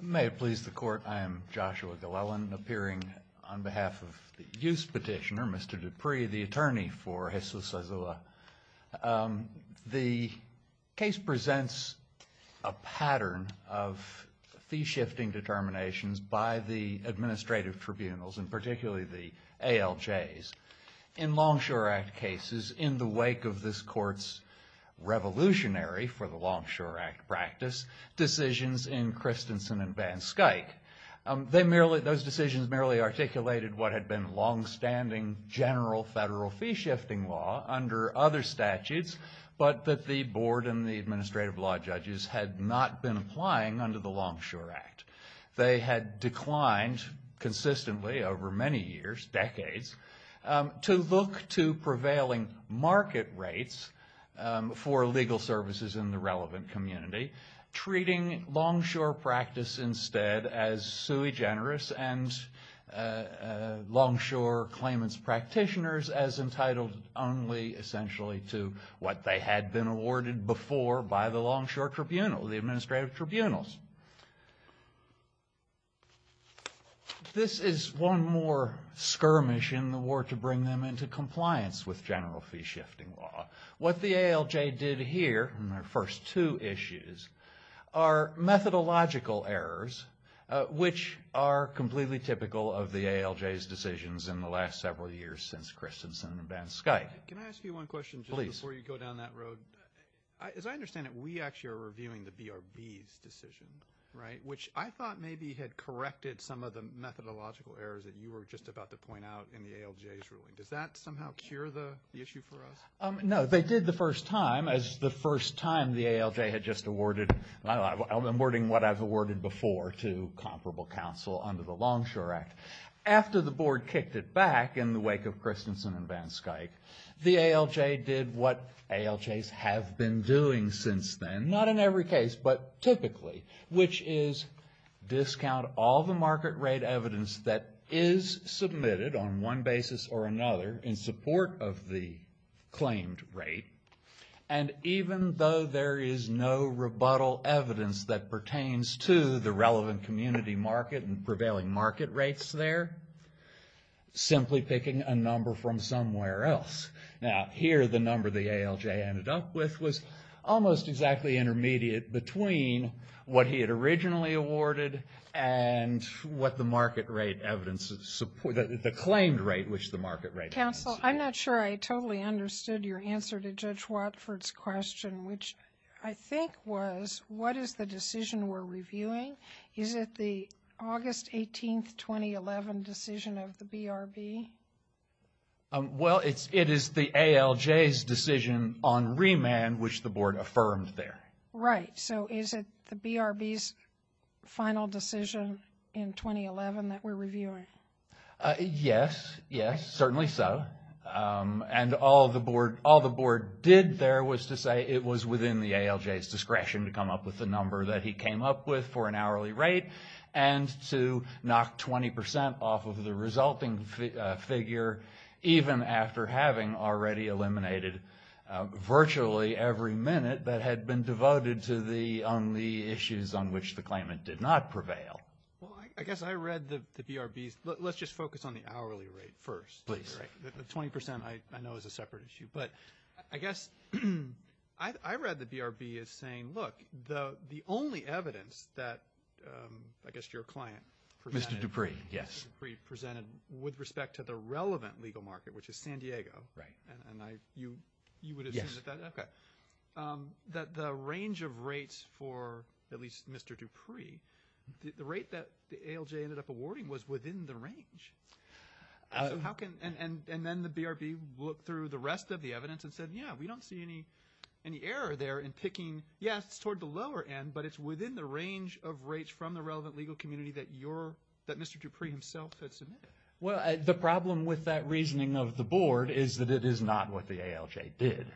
May it please the Court, I am Joshua Glellen, appearing on behalf of the Youth Petitioner, Mr. Dupree, the attorney for Jesus Azua. The case presents a pattern of fee-shifting determinations by the administrative tribunals, and particularly the ALJs. In Longshore Act cases, in the wake of this Court's revolutionary, for the Longshore Act practice, decisions in Christensen and Van Skyke, those decisions merely articulated what had been longstanding general federal fee-shifting law under other statutes, but that the Board and the administrative law judges had not been applying under the Longshore Act. To look to prevailing market rates for legal services in the relevant community, treating longshore practice instead as sui generis and longshore claimants' practitioners as entitled only, essentially, to what they had been awarded before by the longshore tribunal, the administrative tribunals. This is one more skirmish in the war to bring them into compliance with general fee-shifting law. What the ALJ did here in their first two issues are methodological errors, which are completely typical of the ALJ's decisions in the last several years since Christensen and Van Skyke. Can I ask you one question just before you go down that road? Please. As I understand it, we actually are reviewing the BRB's decisions. Right. Which I thought maybe had corrected some of the methodological errors that you were just about to point out in the ALJ's ruling. Does that somehow cure the issue for us? No. They did the first time, as the first time the ALJ had just awarded, I'm wording what I've awarded before to comparable counsel under the Longshore Act. After the Board kicked it back in the wake of Christensen and Van Skyke, the ALJ did what ALJs have been doing since then. Not in every case, but typically, which is discount all the market rate evidence that is submitted on one basis or another in support of the claimed rate. And even though there is no rebuttal evidence that pertains to the relevant community market and prevailing market rates there, simply picking a number from somewhere else. Now, here the number the ALJ ended up with was almost exactly intermediate between what he had originally awarded and what the market rate evidence, the claimed rate, which the market rate evidence. Counsel, I'm not sure I totally understood your answer to Judge Watford's question, which I think was, what is the decision we're reviewing? Is it the August 18, 2011 decision of the BRB? Well, it is the ALJ's decision on remand, which the Board affirmed there. Right, so is it the BRB's final decision in 2011 that we're reviewing? Yes, yes, certainly so. And all the Board did there was to say it was within the ALJ's discretion to come up with the number that he came up with for an hourly rate and to knock 20 percent off of the resulting figure, even after having already eliminated virtually every minute that had been devoted to the only issues on which the claimant did not prevail. Well, I guess I read the BRB's, let's just focus on the hourly rate first. Please. The 20 percent I know is a separate issue. But I guess I read the BRB as saying, look, the only evidence that I guess your client presented. Mr. Dupree, yes. Mr. Dupree presented with respect to the relevant legal market, which is San Diego. Right. And you would assume that the range of rates for at least Mr. Dupree, the rate that the ALJ ended up awarding was within the range. And then the BRB looked through the rest of the evidence and said, yes, we don't see any error there in picking, yes, it's toward the lower end, but it's within the range of rates from the relevant legal community that Mr. Dupree himself had submitted. Well, the problem with that reasoning of the Board is that it is not what the ALJ did.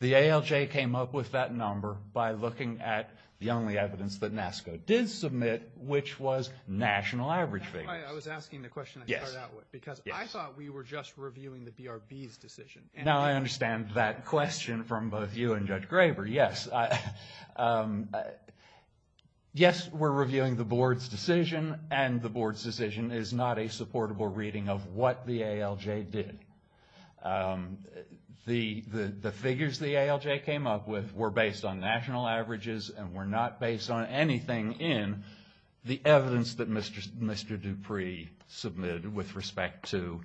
The ALJ came up with that number by looking at the only evidence that NASCA did submit, which was national average figures. That's why I was asking the question I started out with, because I thought we were just reviewing the BRB's decision. Now I understand that question from both you and Judge Graber, yes. Yes, we're reviewing the Board's decision, and the Board's decision is not a supportable reading of what the ALJ did. The figures the ALJ came up with were based on national averages and were not based on anything in the evidence that Mr. Dupree submitted with respect to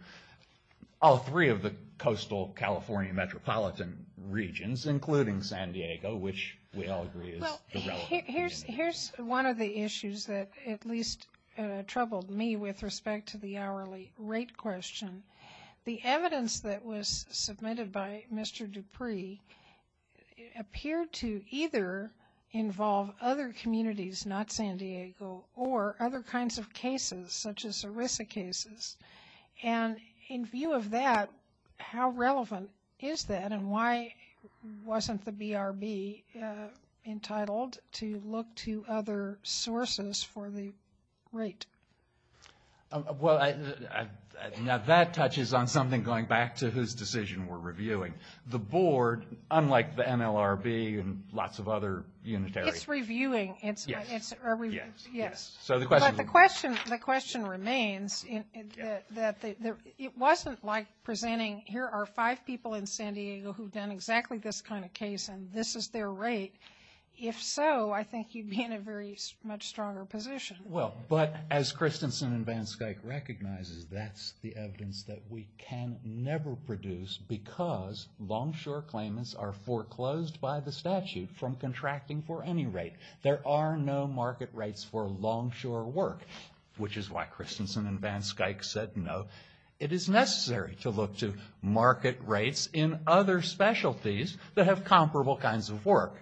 all three of the coastal California metropolitan regions, including San Diego, which we all agree is the relevant community. Here's one of the issues that at least troubled me with respect to the hourly rate question. The evidence that was submitted by Mr. Dupree appeared to either involve other communities, not San Diego, or other kinds of cases, such as ERISA cases. And in view of that, how relevant is that, and why wasn't the BRB entitled to look to other sources for the rate? Well, now that touches on something going back to whose decision we're reviewing. The Board, unlike the MLRB and lots of other unitary... It's reviewing. Yes. But the question remains that it wasn't like presenting, here are five people in San Diego who've done exactly this kind of case, and this is their rate. If so, I think you'd be in a very much stronger position. Well, but as Christensen and VanSkyke recognizes, that's the evidence that we can never produce because longshore claimants are foreclosed by the statute from contracting for any rate. There are no market rates for longshore work, which is why Christensen and VanSkyke said no. It is necessary to look to market rates in other specialties that have comparable kinds of work.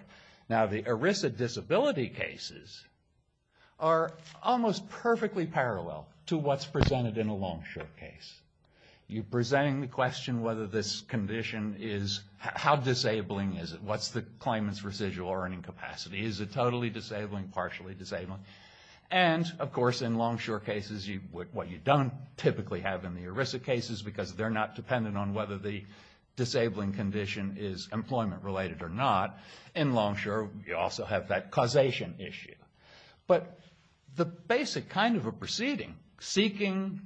Now, the ERISA disability cases are almost perfectly parallel to what's presented in a longshore case. You're presenting the question whether this condition is... How disabling is it? What's the claimant's residual earning capacity? Is it totally disabling, partially disabling? And, of course, in longshore cases, what you don't typically have in the ERISA cases because they're not dependent on whether the disabling condition is employment-related or not, in longshore, you also have that causation issue. But the basic kind of a proceeding, seeking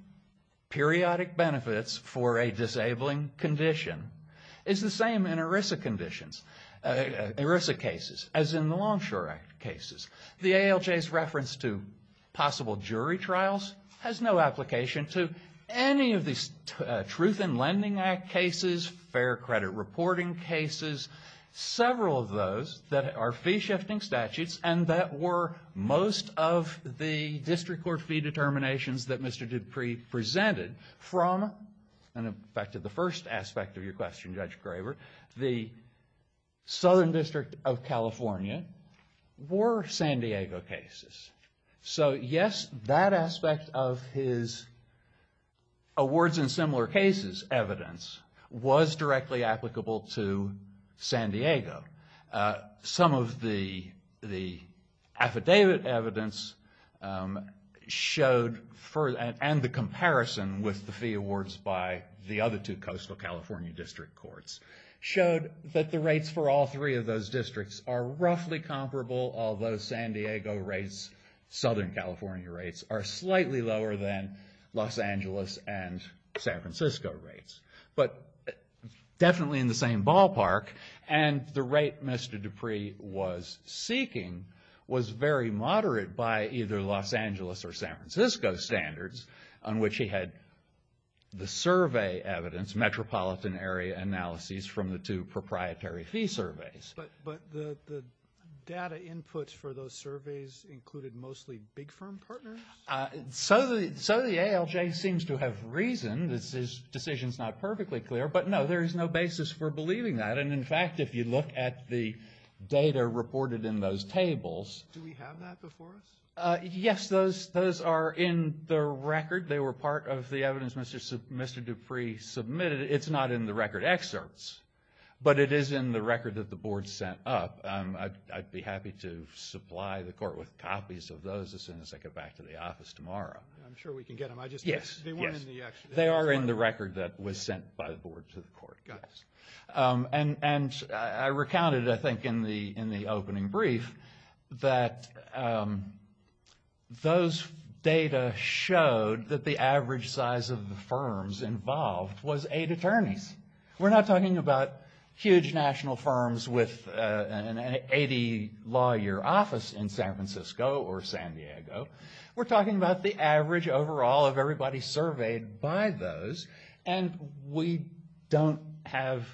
periodic benefits for a disabling condition, is the same in ERISA conditions, ERISA cases, as in the Longshore Act cases. The ALJ's reference to possible jury trials has no application to any of these Truth in Lending Act cases, fair credit reporting cases, several of those that are fee-shifting statutes and that were most of the district court fee determinations that Mr. Dupree presented from, in effect, the first aspect of your question, Judge Craver, the Southern District of California were San Diego cases. So, yes, that aspect of his awards in similar cases evidence was directly applicable to San Diego. Some of the affidavit evidence showed, and the comparison with the fee awards by the other two coastal California district courts, showed that the rates for all three of those districts are roughly comparable, although San Diego rates, Southern California rates, are slightly lower than Los Angeles and San Francisco rates. But definitely in the same ballpark, and the rate Mr. Dupree was seeking was very moderate by either Los Angeles or San Francisco standards, on which he had the survey evidence, metropolitan area analyses, from the two proprietary fee surveys. But the data inputs for those surveys included mostly big firm partners? So the ALJ seems to have reason. This decision is not perfectly clear. But, no, there is no basis for believing that. And, in fact, if you look at the data reported in those tables. Do we have that before us? Yes, those are in the record. They were part of the evidence Mr. Dupree submitted. It's not in the record excerpts, but it is in the record that the board sent up. I'd be happy to supply the court with copies of those as soon as I get back to the office tomorrow. I'm sure we can get them. Yes, yes. They are in the record that was sent by the board to the court. And I recounted, I think, in the opening brief, that those data showed that the average size of the firms involved was eight attorneys. We're not talking about huge national firms with an 80-lawyer office in San Francisco or San Diego. We're talking about the average overall of everybody surveyed by those. And we don't have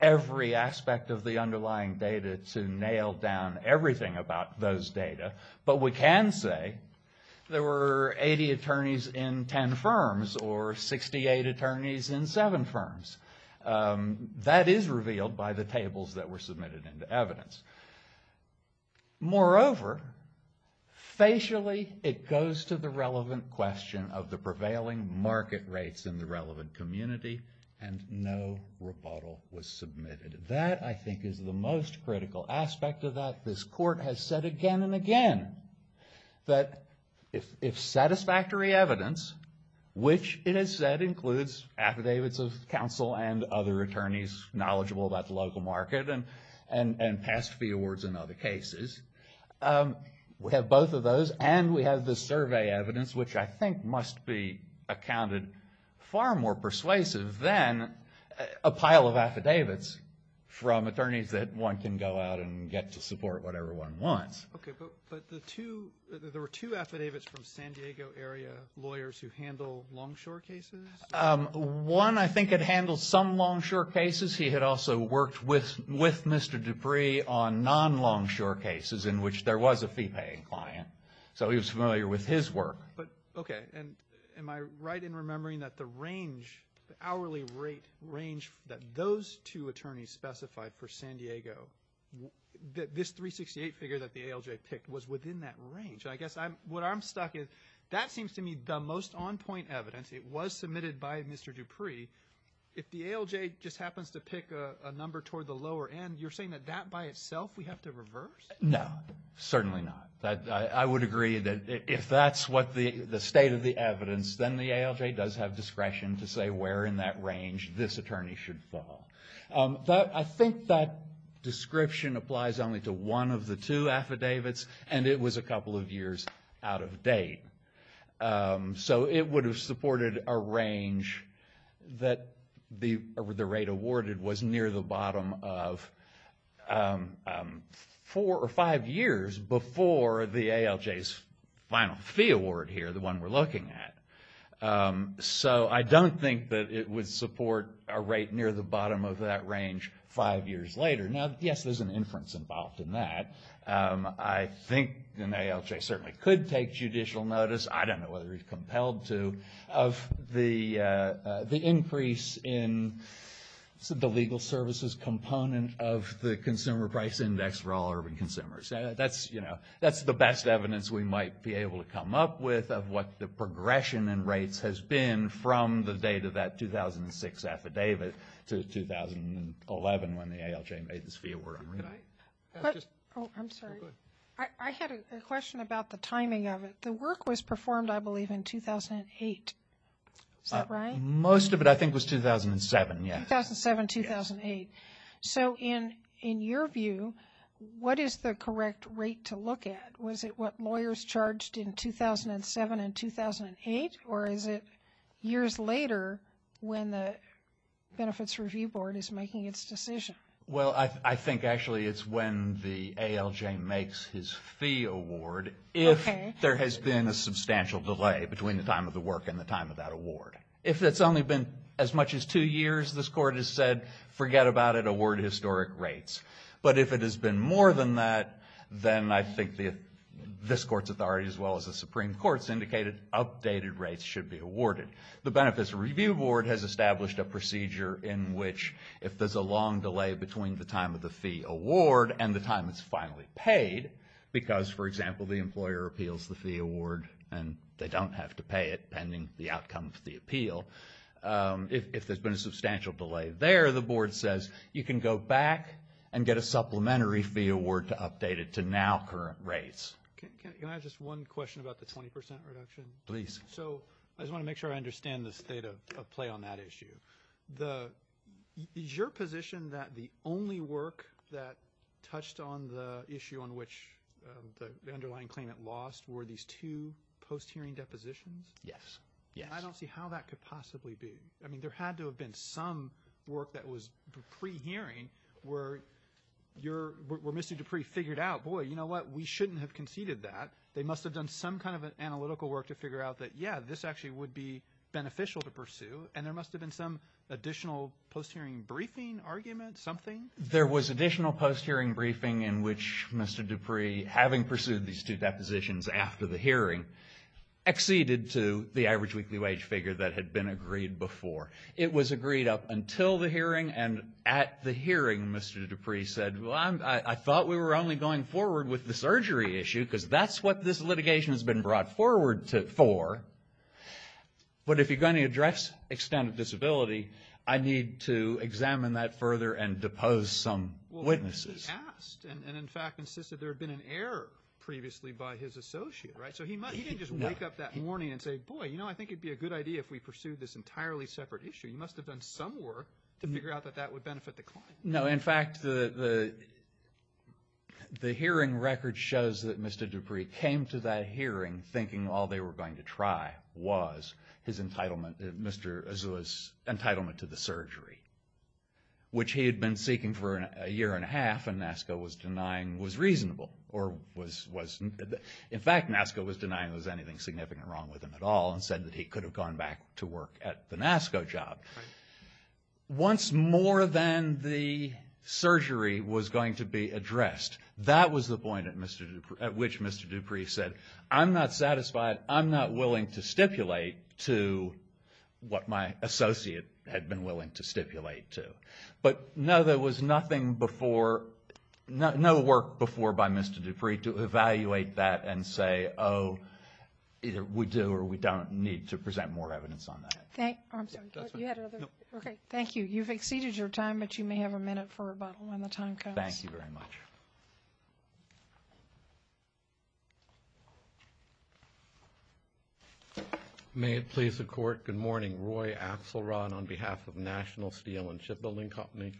every aspect of the underlying data to nail down everything about those data. But we can say there were 80 attorneys in 10 firms or 68 attorneys in 7 firms. That is revealed by the tables that were submitted into evidence. Moreover, facially, it goes to the relevant question of the prevailing market rates in the relevant community, and no rebuttal was submitted. That, I think, is the most critical aspect of that. This court has said again and again that if satisfactory evidence, which it has said includes affidavits of counsel and other attorneys knowledgeable about the local market and past fee awards in other cases, we have both of those and we have the survey evidence, which I think must be accounted far more persuasive than a pile of affidavits from attorneys that one can go out and get to support whatever one wants. Okay, but there were two affidavits from San Diego area lawyers who handle longshore cases? One, I think, had handled some longshore cases. He had also worked with Mr. Dupree on non-longshore cases in which there was a fee-paying client. So he was familiar with his work. Okay, and am I right in remembering that the range, the hourly rate range that those two attorneys specified for San Diego, this 368 figure that the ALJ picked was within that range? I guess what I'm stuck is that seems to me the most on-point evidence. It was submitted by Mr. Dupree. If the ALJ just happens to pick a number toward the lower end, you're saying that that by itself we have to reverse? No, certainly not. I would agree that if that's the state of the evidence, then the ALJ does have discretion to say where in that range this attorney should fall. I think that description applies only to one of the two affidavits, and it was a couple of years out of date. So it would have supported a range that the rate awarded was near the bottom of four or five years before the ALJ's final fee award here, the one we're looking at. So I don't think that it would support a rate near the bottom of that range five years later. Now, yes, there's an inference involved in that. I think an ALJ certainly could take judicial notice, I don't know whether he's compelled to, of the increase in the legal services component of the consumer price index for all urban consumers. That's the best evidence we might be able to come up with of what the progression in rates has been from the date of that 2006 affidavit to 2011 when the ALJ made this fee award. I'm sorry. I had a question about the timing of it. The work was performed, I believe, in 2008. Is that right? Most of it, I think, was 2007, yes. 2007, 2008. So in your view, what is the correct rate to look at? Was it what lawyers charged in 2007 and 2008, or is it years later when the Benefits Review Board is making its decision? Well, I think actually it's when the ALJ makes his fee award if there has been a substantial delay between the time of the work and the time of that award. If it's only been as much as two years, this Court has said, forget about it, award historic rates. But if it has been more than that, then I think this Court's authority as well as the Supreme Court's indicated updated rates should be awarded. The Benefits Review Board has established a procedure in which if there's a long delay between the time of the fee award and the time it's finally paid, because, for example, the employer appeals the fee award and they don't have to pay it pending the outcome of the appeal, if there's been a substantial delay there, the Board says, you can go back and get a supplementary fee award to update it to now current rates. Can I have just one question about the 20% reduction? Please. So I just want to make sure I understand the state of play on that issue. Is your position that the only work that touched on the issue on which the underlying claimant lost were these two post-hearing depositions? Yes. I don't see how that could possibly be. I mean, there had to have been some work that was pre-hearing where Mr. Dupree figured out, boy, you know what, we shouldn't have conceded that. They must have done some kind of analytical work to figure out that, yeah, this actually would be beneficial to pursue, and there must have been some additional post-hearing briefing argument, something? There was additional post-hearing briefing in which Mr. Dupree, having pursued these two depositions after the hearing, acceded to the average weekly wage figure that had been agreed before. It was agreed up until the hearing, and at the hearing Mr. Dupree said, well, I thought we were only going forward with the surgery issue because that's what this litigation has been brought forward for, but if you're going to address extent of disability, I need to examine that further and depose some witnesses. Well, he asked and, in fact, insisted there had been an error previously by his associate, right? So he didn't just wake up that morning and say, boy, you know, I think it would be a good idea if we pursued this entirely separate issue. He must have done some work to figure out that that would benefit the client. No. In fact, the hearing record shows that Mr. Dupree came to that hearing thinking all they were going to try was his entitlement, Mr. Azouz's entitlement to the surgery, which he had been seeking for a year and a half and NASCA was denying was reasonable or was, in fact, NASCA was denying there was anything significant wrong with him at all and said that he could have gone back to work at the NASCA job. Right. Once more than the surgery was going to be addressed, that was the point at which Mr. Dupree said, I'm not satisfied. I'm not willing to stipulate to what my associate had been willing to stipulate to. But, no, there was nothing before, no work before by Mr. Dupree to evaluate that and say, oh, either we do or we don't need to present more evidence on that. Thank you. You've exceeded your time, but you may have a minute for rebuttal when the time comes. Thank you very much. May it please the Court, good morning. Roy Axelrod on behalf of National Steel and Shipbuilding Company.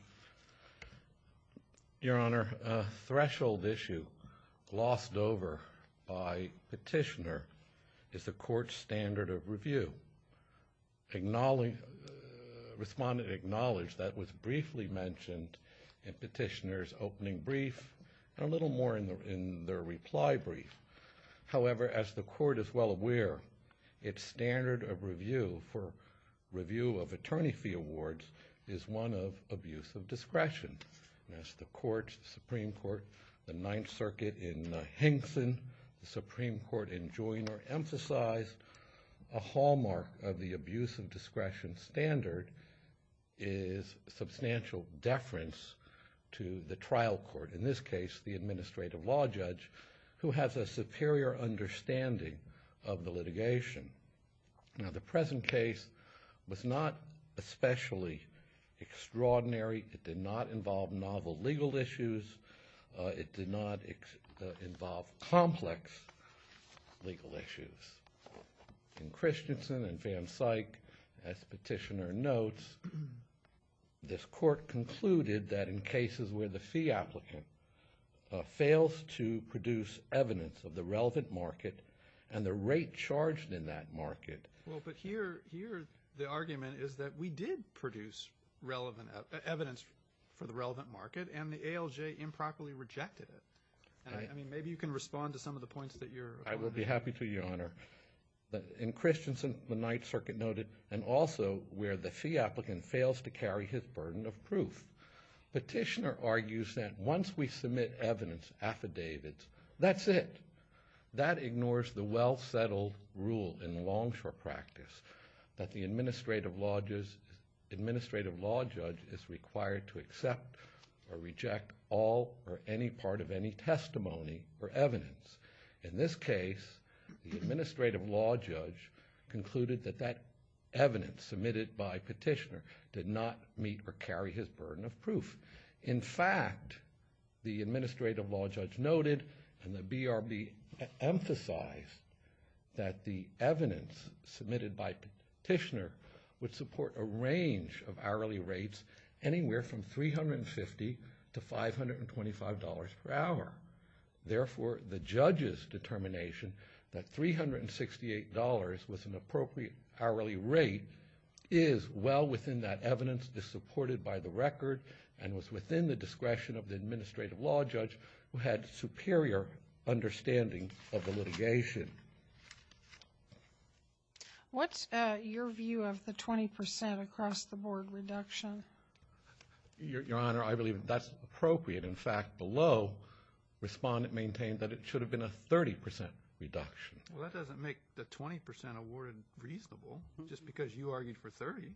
Your Honor, a threshold issue glossed over by Petitioner is the Court's standard of review. Respondent acknowledged that was briefly mentioned in Petitioner's opening brief and a little more in their reply brief. However, as the Court is well aware, its standard of review for review of attorney fee awards is one of abuse of discretion. And as the Court, the Supreme Court, the Ninth Circuit in Henson, the Supreme Court in Joyner emphasized, a hallmark of the abuse of discretion standard is substantial deference to the trial court, in this case the administrative law judge, who has a superior understanding of the litigation. Now, the present case was not especially extraordinary. It did not involve novel legal issues. It did not involve complex legal issues. In Christensen and Van Syk, as Petitioner notes, this Court concluded that in cases where the fee applicant fails to produce evidence of the relevant market and the rate charged in that market. Well, but here the argument is that we did produce evidence for the relevant market and the ALJ improperly rejected it. I mean, maybe you can respond to some of the points that you're pointing out. I will be happy to, Your Honor. In Christensen, the Ninth Circuit noted, and also where the fee applicant fails to carry his burden of proof. Petitioner argues that once we submit evidence, affidavits, that's it. That ignores the well-settled rule in longshore practice that the administrative law judge is required to accept or reject all or any part of any testimony or evidence. In this case, the administrative law judge concluded that that evidence submitted by Petitioner did not meet or carry his burden of proof. In fact, the administrative law judge noted and the BRB emphasized that the evidence submitted by Petitioner would support a range of hourly rates anywhere from $350 to $525 per hour. Therefore, the judge's determination that $368 was an appropriate hourly rate is well within that evidence, is supported by the record, and was within the discretion of the administrative law judge who had superior understanding of the litigation. What's your view of the 20% across-the-board reduction? Your Honor, I believe that's appropriate. In fact, below, Respondent maintained that it should have been a 30% reduction. Well, that doesn't make the 20% awarded reasonable, just because you argued for 30%.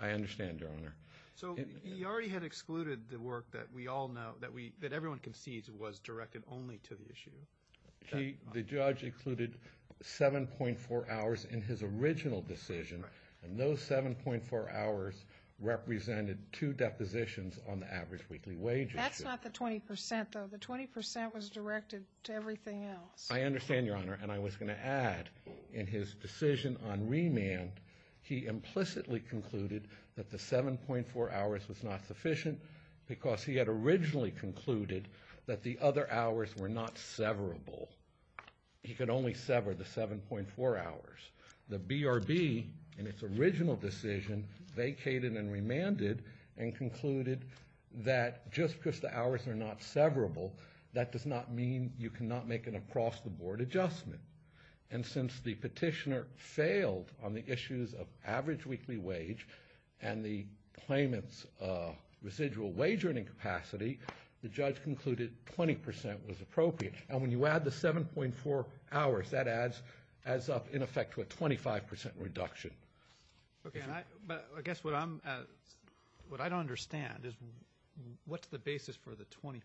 I understand, Your Honor. So he already had excluded the work that we all know that everyone concedes was directed only to the issue. The judge included 7.4 hours in his original decision, and those 7.4 hours represented two depositions on the average weekly wage issue. That's not the 20%, though. The 20% was directed to everything else. I understand, Your Honor. And I was going to add, in his decision on remand, he implicitly concluded that the 7.4 hours was not sufficient because he had originally concluded that the other hours were not severable. He could only sever the 7.4 hours. The BRB, in its original decision, vacated and remanded and concluded that just because the hours are not severable, that does not mean you cannot make an across-the-board adjustment. And since the petitioner failed on the issues of average weekly wage and the claimant's residual wage earning capacity, the judge concluded 20% was appropriate. And when you add the 7.4 hours, that adds up, in effect, to a 25% reduction. Okay. But I guess what I don't understand is what's the basis for the 20%?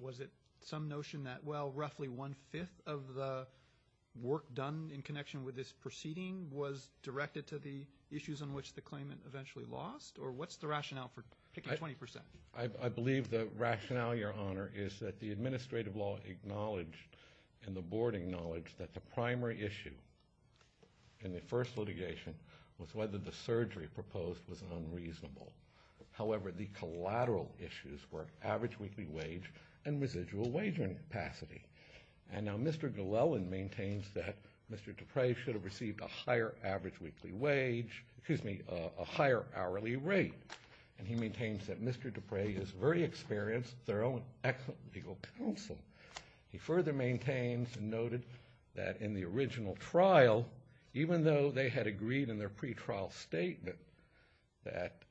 Was it some notion that, well, roughly one-fifth of the work done in connection with this proceeding was directed to the issues on which the claimant eventually lost? Or what's the rationale for picking 20%? I believe the rationale, Your Honor, is that the administrative law acknowledged and the Board acknowledged that the primary issue in the first litigation was whether the surgery proposed was unreasonable. However, the collateral issues were average weekly wage and residual wage earning capacity. And now Mr. Gillelan maintains that Mr. Duprey should have received a higher hourly rate. And he maintains that Mr. Duprey is very experienced, thorough, and excellent legal counsel. He further maintains and noted that in the original trial, even though they had agreed in their pretrial statement that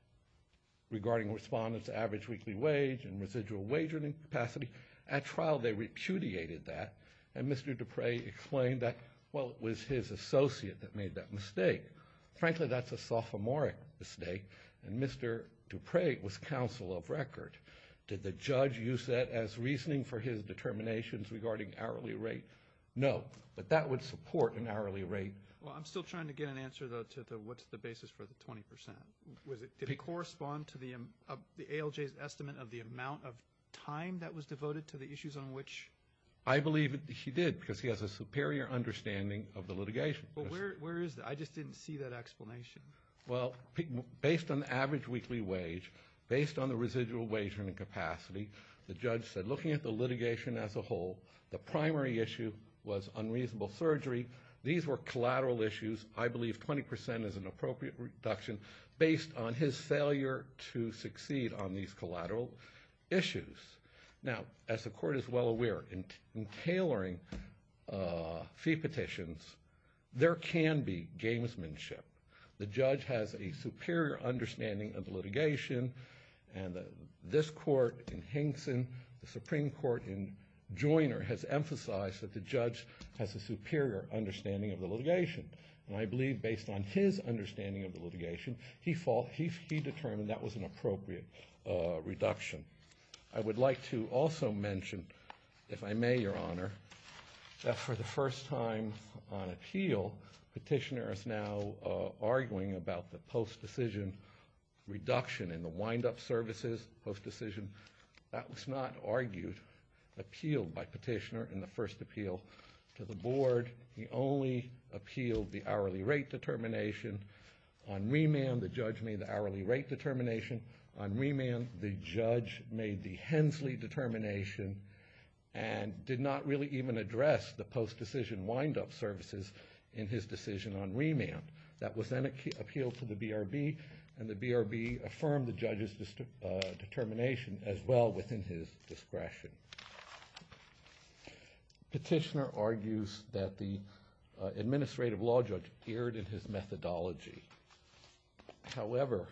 regarding respondents' average weekly wage and residual wage earning capacity, at trial they repudiated that, and Mr. Duprey explained that, well, it was his associate that made that mistake. Frankly, that's a sophomoric mistake, and Mr. Duprey was counsel of record. Did the judge use that as reasoning for his determinations regarding hourly rate? No. But that would support an hourly rate. Well, I'm still trying to get an answer, though, to what's the basis for the 20%. Did it correspond to the ALJ's estimate of the amount of time that was devoted to the issues on which? I believe he did because he has a superior understanding of the litigation. But where is that? I just didn't see that explanation. Well, based on the average weekly wage, based on the residual wage earning capacity, the judge said looking at the litigation as a whole, the primary issue was unreasonable surgery. These were collateral issues. I believe 20% is an appropriate reduction based on his failure to succeed on these collateral issues. Now, as the Court is well aware, in tailoring fee petitions, there can be gamesmanship. The judge has a superior understanding of the litigation, and this Court in Hinkson, the Supreme Court in Joyner, has emphasized that the judge has a superior understanding of the litigation. And I believe based on his understanding of the litigation, he determined that was an appropriate reduction. I would like to also mention, if I may, Your Honor, that for the first time on appeal, Petitioner is now arguing about the post-decision reduction in the wind-up services post-decision. That was not argued, appealed by Petitioner in the first appeal to the Board. He only appealed the hourly rate determination. On remand, the judge made the hourly rate determination. On remand, the judge made the Hensley determination and did not really even address the post-decision wind-up services in his decision on remand. That was then appealed to the BRB, and the BRB affirmed the judge's determination as well within his discretion. Petitioner argues that the administrative law judge erred in his methodology. However,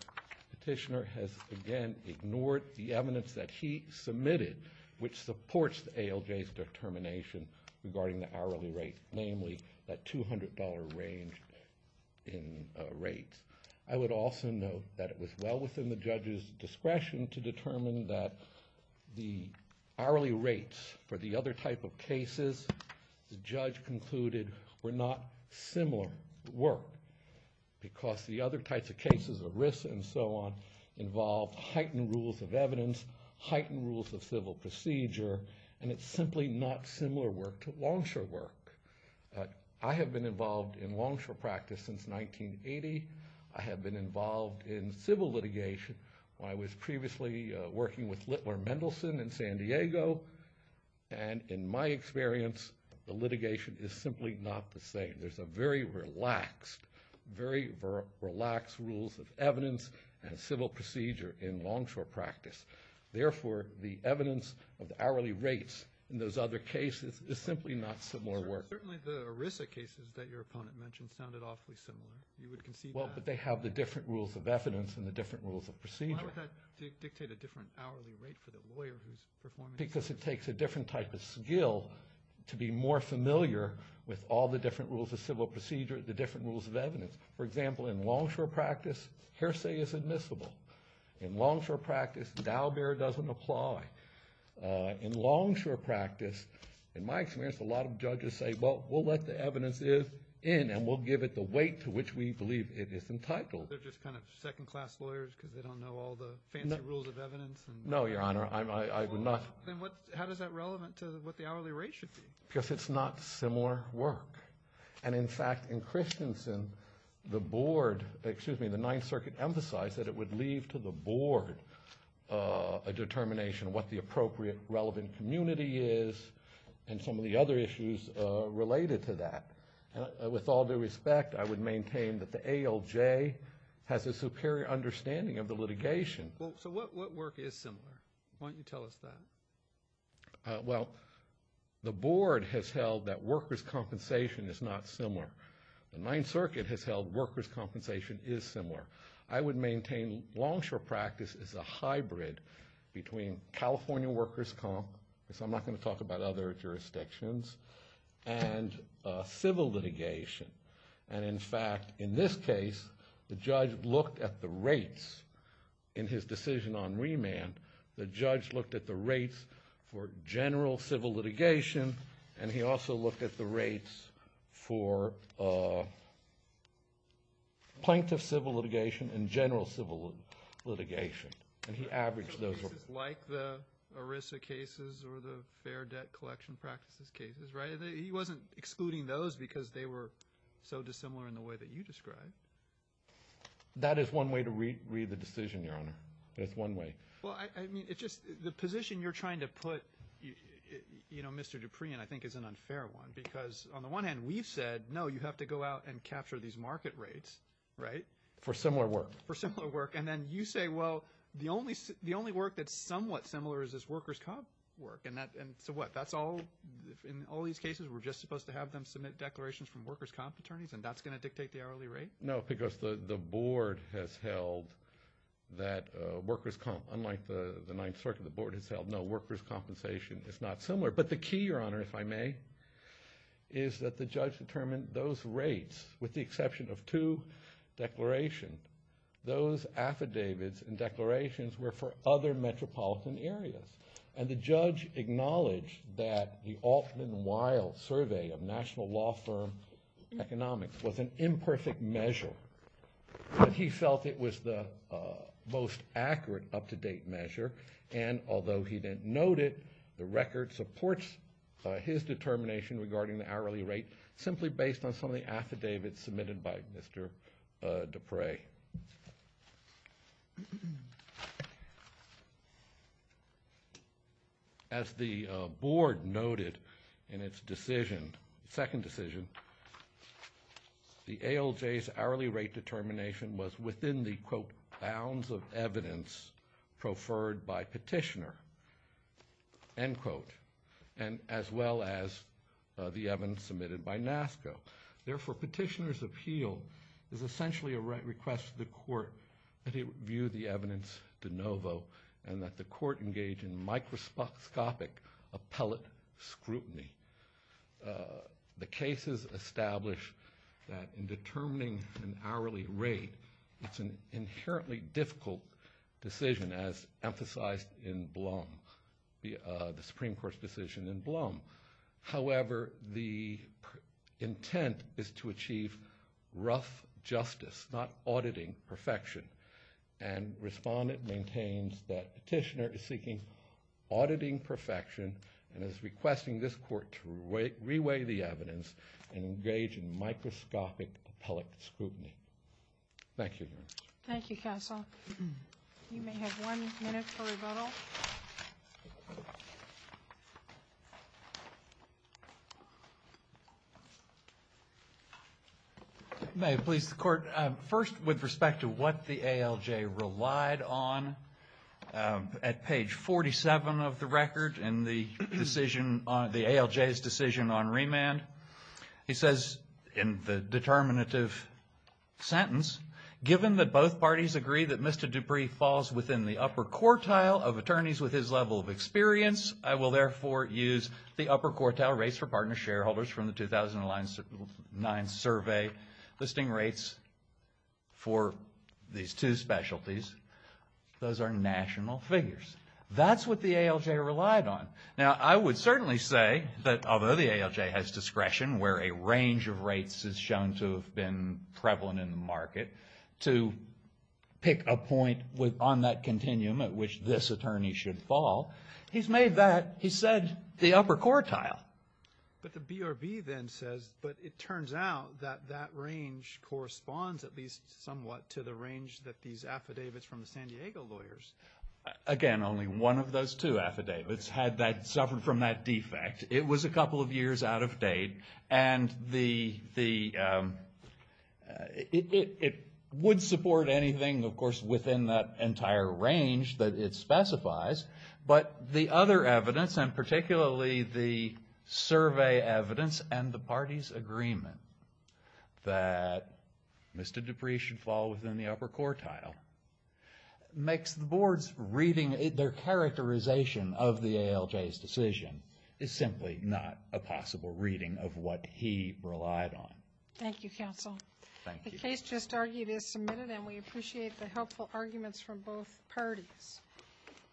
Petitioner has again ignored the evidence that he submitted which supports the ALJ's determination regarding the hourly rate, namely that $200 range in rates. I would also note that it was well within the judge's discretion to determine that the hourly rates for the other type of cases the judge concluded were not similar work because the other types of cases, ERISA and so on, involve heightened rules of evidence, heightened rules of civil procedure, and it's simply not similar work to longshore work. I have been involved in longshore practice since 1980. I have been involved in civil litigation. I was previously working with Littler Mendelson in San Diego, and in my experience, the litigation is simply not the same. There's a very relaxed, very relaxed rules of evidence and civil procedure in longshore practice. Therefore, the evidence of the hourly rates in those other cases is simply not similar work. Certainly the ERISA cases that your opponent mentioned sounded awfully similar. You would concede that. Well, but they have the different rules of evidence and the different rules of procedure. Why would that dictate a different hourly rate for the lawyer who's performing? Simply because it takes a different type of skill to be more familiar with all the different rules of civil procedure, the different rules of evidence. For example, in longshore practice, hearsay is admissible. In longshore practice, dowbear doesn't apply. In longshore practice, in my experience, a lot of judges say, well, we'll let the evidence in, and we'll give it the weight to which we believe it is entitled. They're just kind of second-class lawyers because they don't know all the fancy rules of evidence? No, Your Honor, I would not. Then how is that relevant to what the hourly rate should be? Because it's not similar work. And, in fact, in Christensen, the board, excuse me, the Ninth Circuit emphasized that it would leave to the board a determination of what the appropriate relevant community is and some of the other issues related to that. With all due respect, I would maintain that the ALJ has a superior understanding of the litigation. Well, so what work is similar? Why don't you tell us that? Well, the board has held that workers' compensation is not similar. The Ninth Circuit has held workers' compensation is similar. I would maintain longshore practice is a hybrid between California workers' comp because I'm not going to talk about other jurisdictions, and civil litigation. And, in fact, in this case, the judge looked at the rates in his decision on remand. The judge looked at the rates for general civil litigation, and he also looked at the rates for plaintiff civil litigation and general civil litigation. And he averaged those. Like the ERISA cases or the fair debt collection practices cases, right? He wasn't excluding those because they were so dissimilar in the way that you described. That is one way to read the decision, Your Honor. That's one way. Well, I mean, it's just the position you're trying to put, you know, Mr. Dupree in, I think, is an unfair one because, on the one hand, we've said, no, you have to go out and capture these market rates, right? For similar work. For similar work. And then you say, well, the only work that's somewhat similar is this workers' comp work. And so what? That's all? In all these cases, we're just supposed to have them submit declarations from workers' comp attorneys, and that's going to dictate the hourly rate? No, because the board has held that workers' comp, unlike the Ninth Circuit, the board has held, no, workers' compensation is not similar. But the key, Your Honor, if I may, is that the judge determined those rates, with the exception of two declarations, those affidavits and declarations were for other metropolitan areas. And the judge acknowledged that the Alton & Weil Survey of National Law Firm Economics was an imperfect measure. But he felt it was the most accurate up-to-date measure, and although he didn't note it, the record supports his determination regarding the hourly rate simply based on some of the affidavits submitted by Mr. Dupree. As the board noted in its decision, second decision, the ALJ's hourly rate determination was within the, quote, bounds of evidence preferred by petitioner, end quote, and as well as the evidence submitted by NASCO. Therefore, petitioner's appeal is essentially a request to the court that it review the evidence de novo and that the court engage in microscopic appellate scrutiny. The cases establish that in determining an hourly rate, it's an inherently difficult decision, as emphasized in Blum, however, the intent is to achieve rough justice, not auditing perfection. And respondent maintains that petitioner is seeking auditing perfection and is requesting this court to re-weigh the evidence and engage in microscopic appellate scrutiny. Thank you, Your Honor. Thank you, Counsel. You may have one minute for rebuttal. May it please the Court. First, with respect to what the ALJ relied on at page 47 of the record in the decision, the ALJ's decision on remand, he says in the determinative sentence, given that both parties agree that Mr. Dupree falls within the upper quartile of attorneys with his level of experience, I will therefore use the upper quartile rates for partner shareholders from the 2009 survey, listing rates for these two specialties. Those are national figures. That's what the ALJ relied on. Now, I would certainly say that although the ALJ has discretion where a range of rates is shown to have been prevalent in the market, to pick a point on that continuum at which this attorney should fall, he's made that, he said, the upper quartile. But the BRB then says, but it turns out that that range corresponds at least somewhat to the range that these affidavits from the San Diego lawyers. Again, only one of those two affidavits suffered from that defect. It was a couple of years out of date, and it would support anything, of course, within that entire range that it specifies. But the other evidence, and particularly the survey evidence and the parties' agreement that Mr. Dupree should fall within the upper quartile, makes the board's reading their characterization of the ALJ's decision is simply not a possible reading of what he relied on. Thank you, counsel. Thank you. The case just argued is submitted, and we appreciate the helpful arguments from both parties.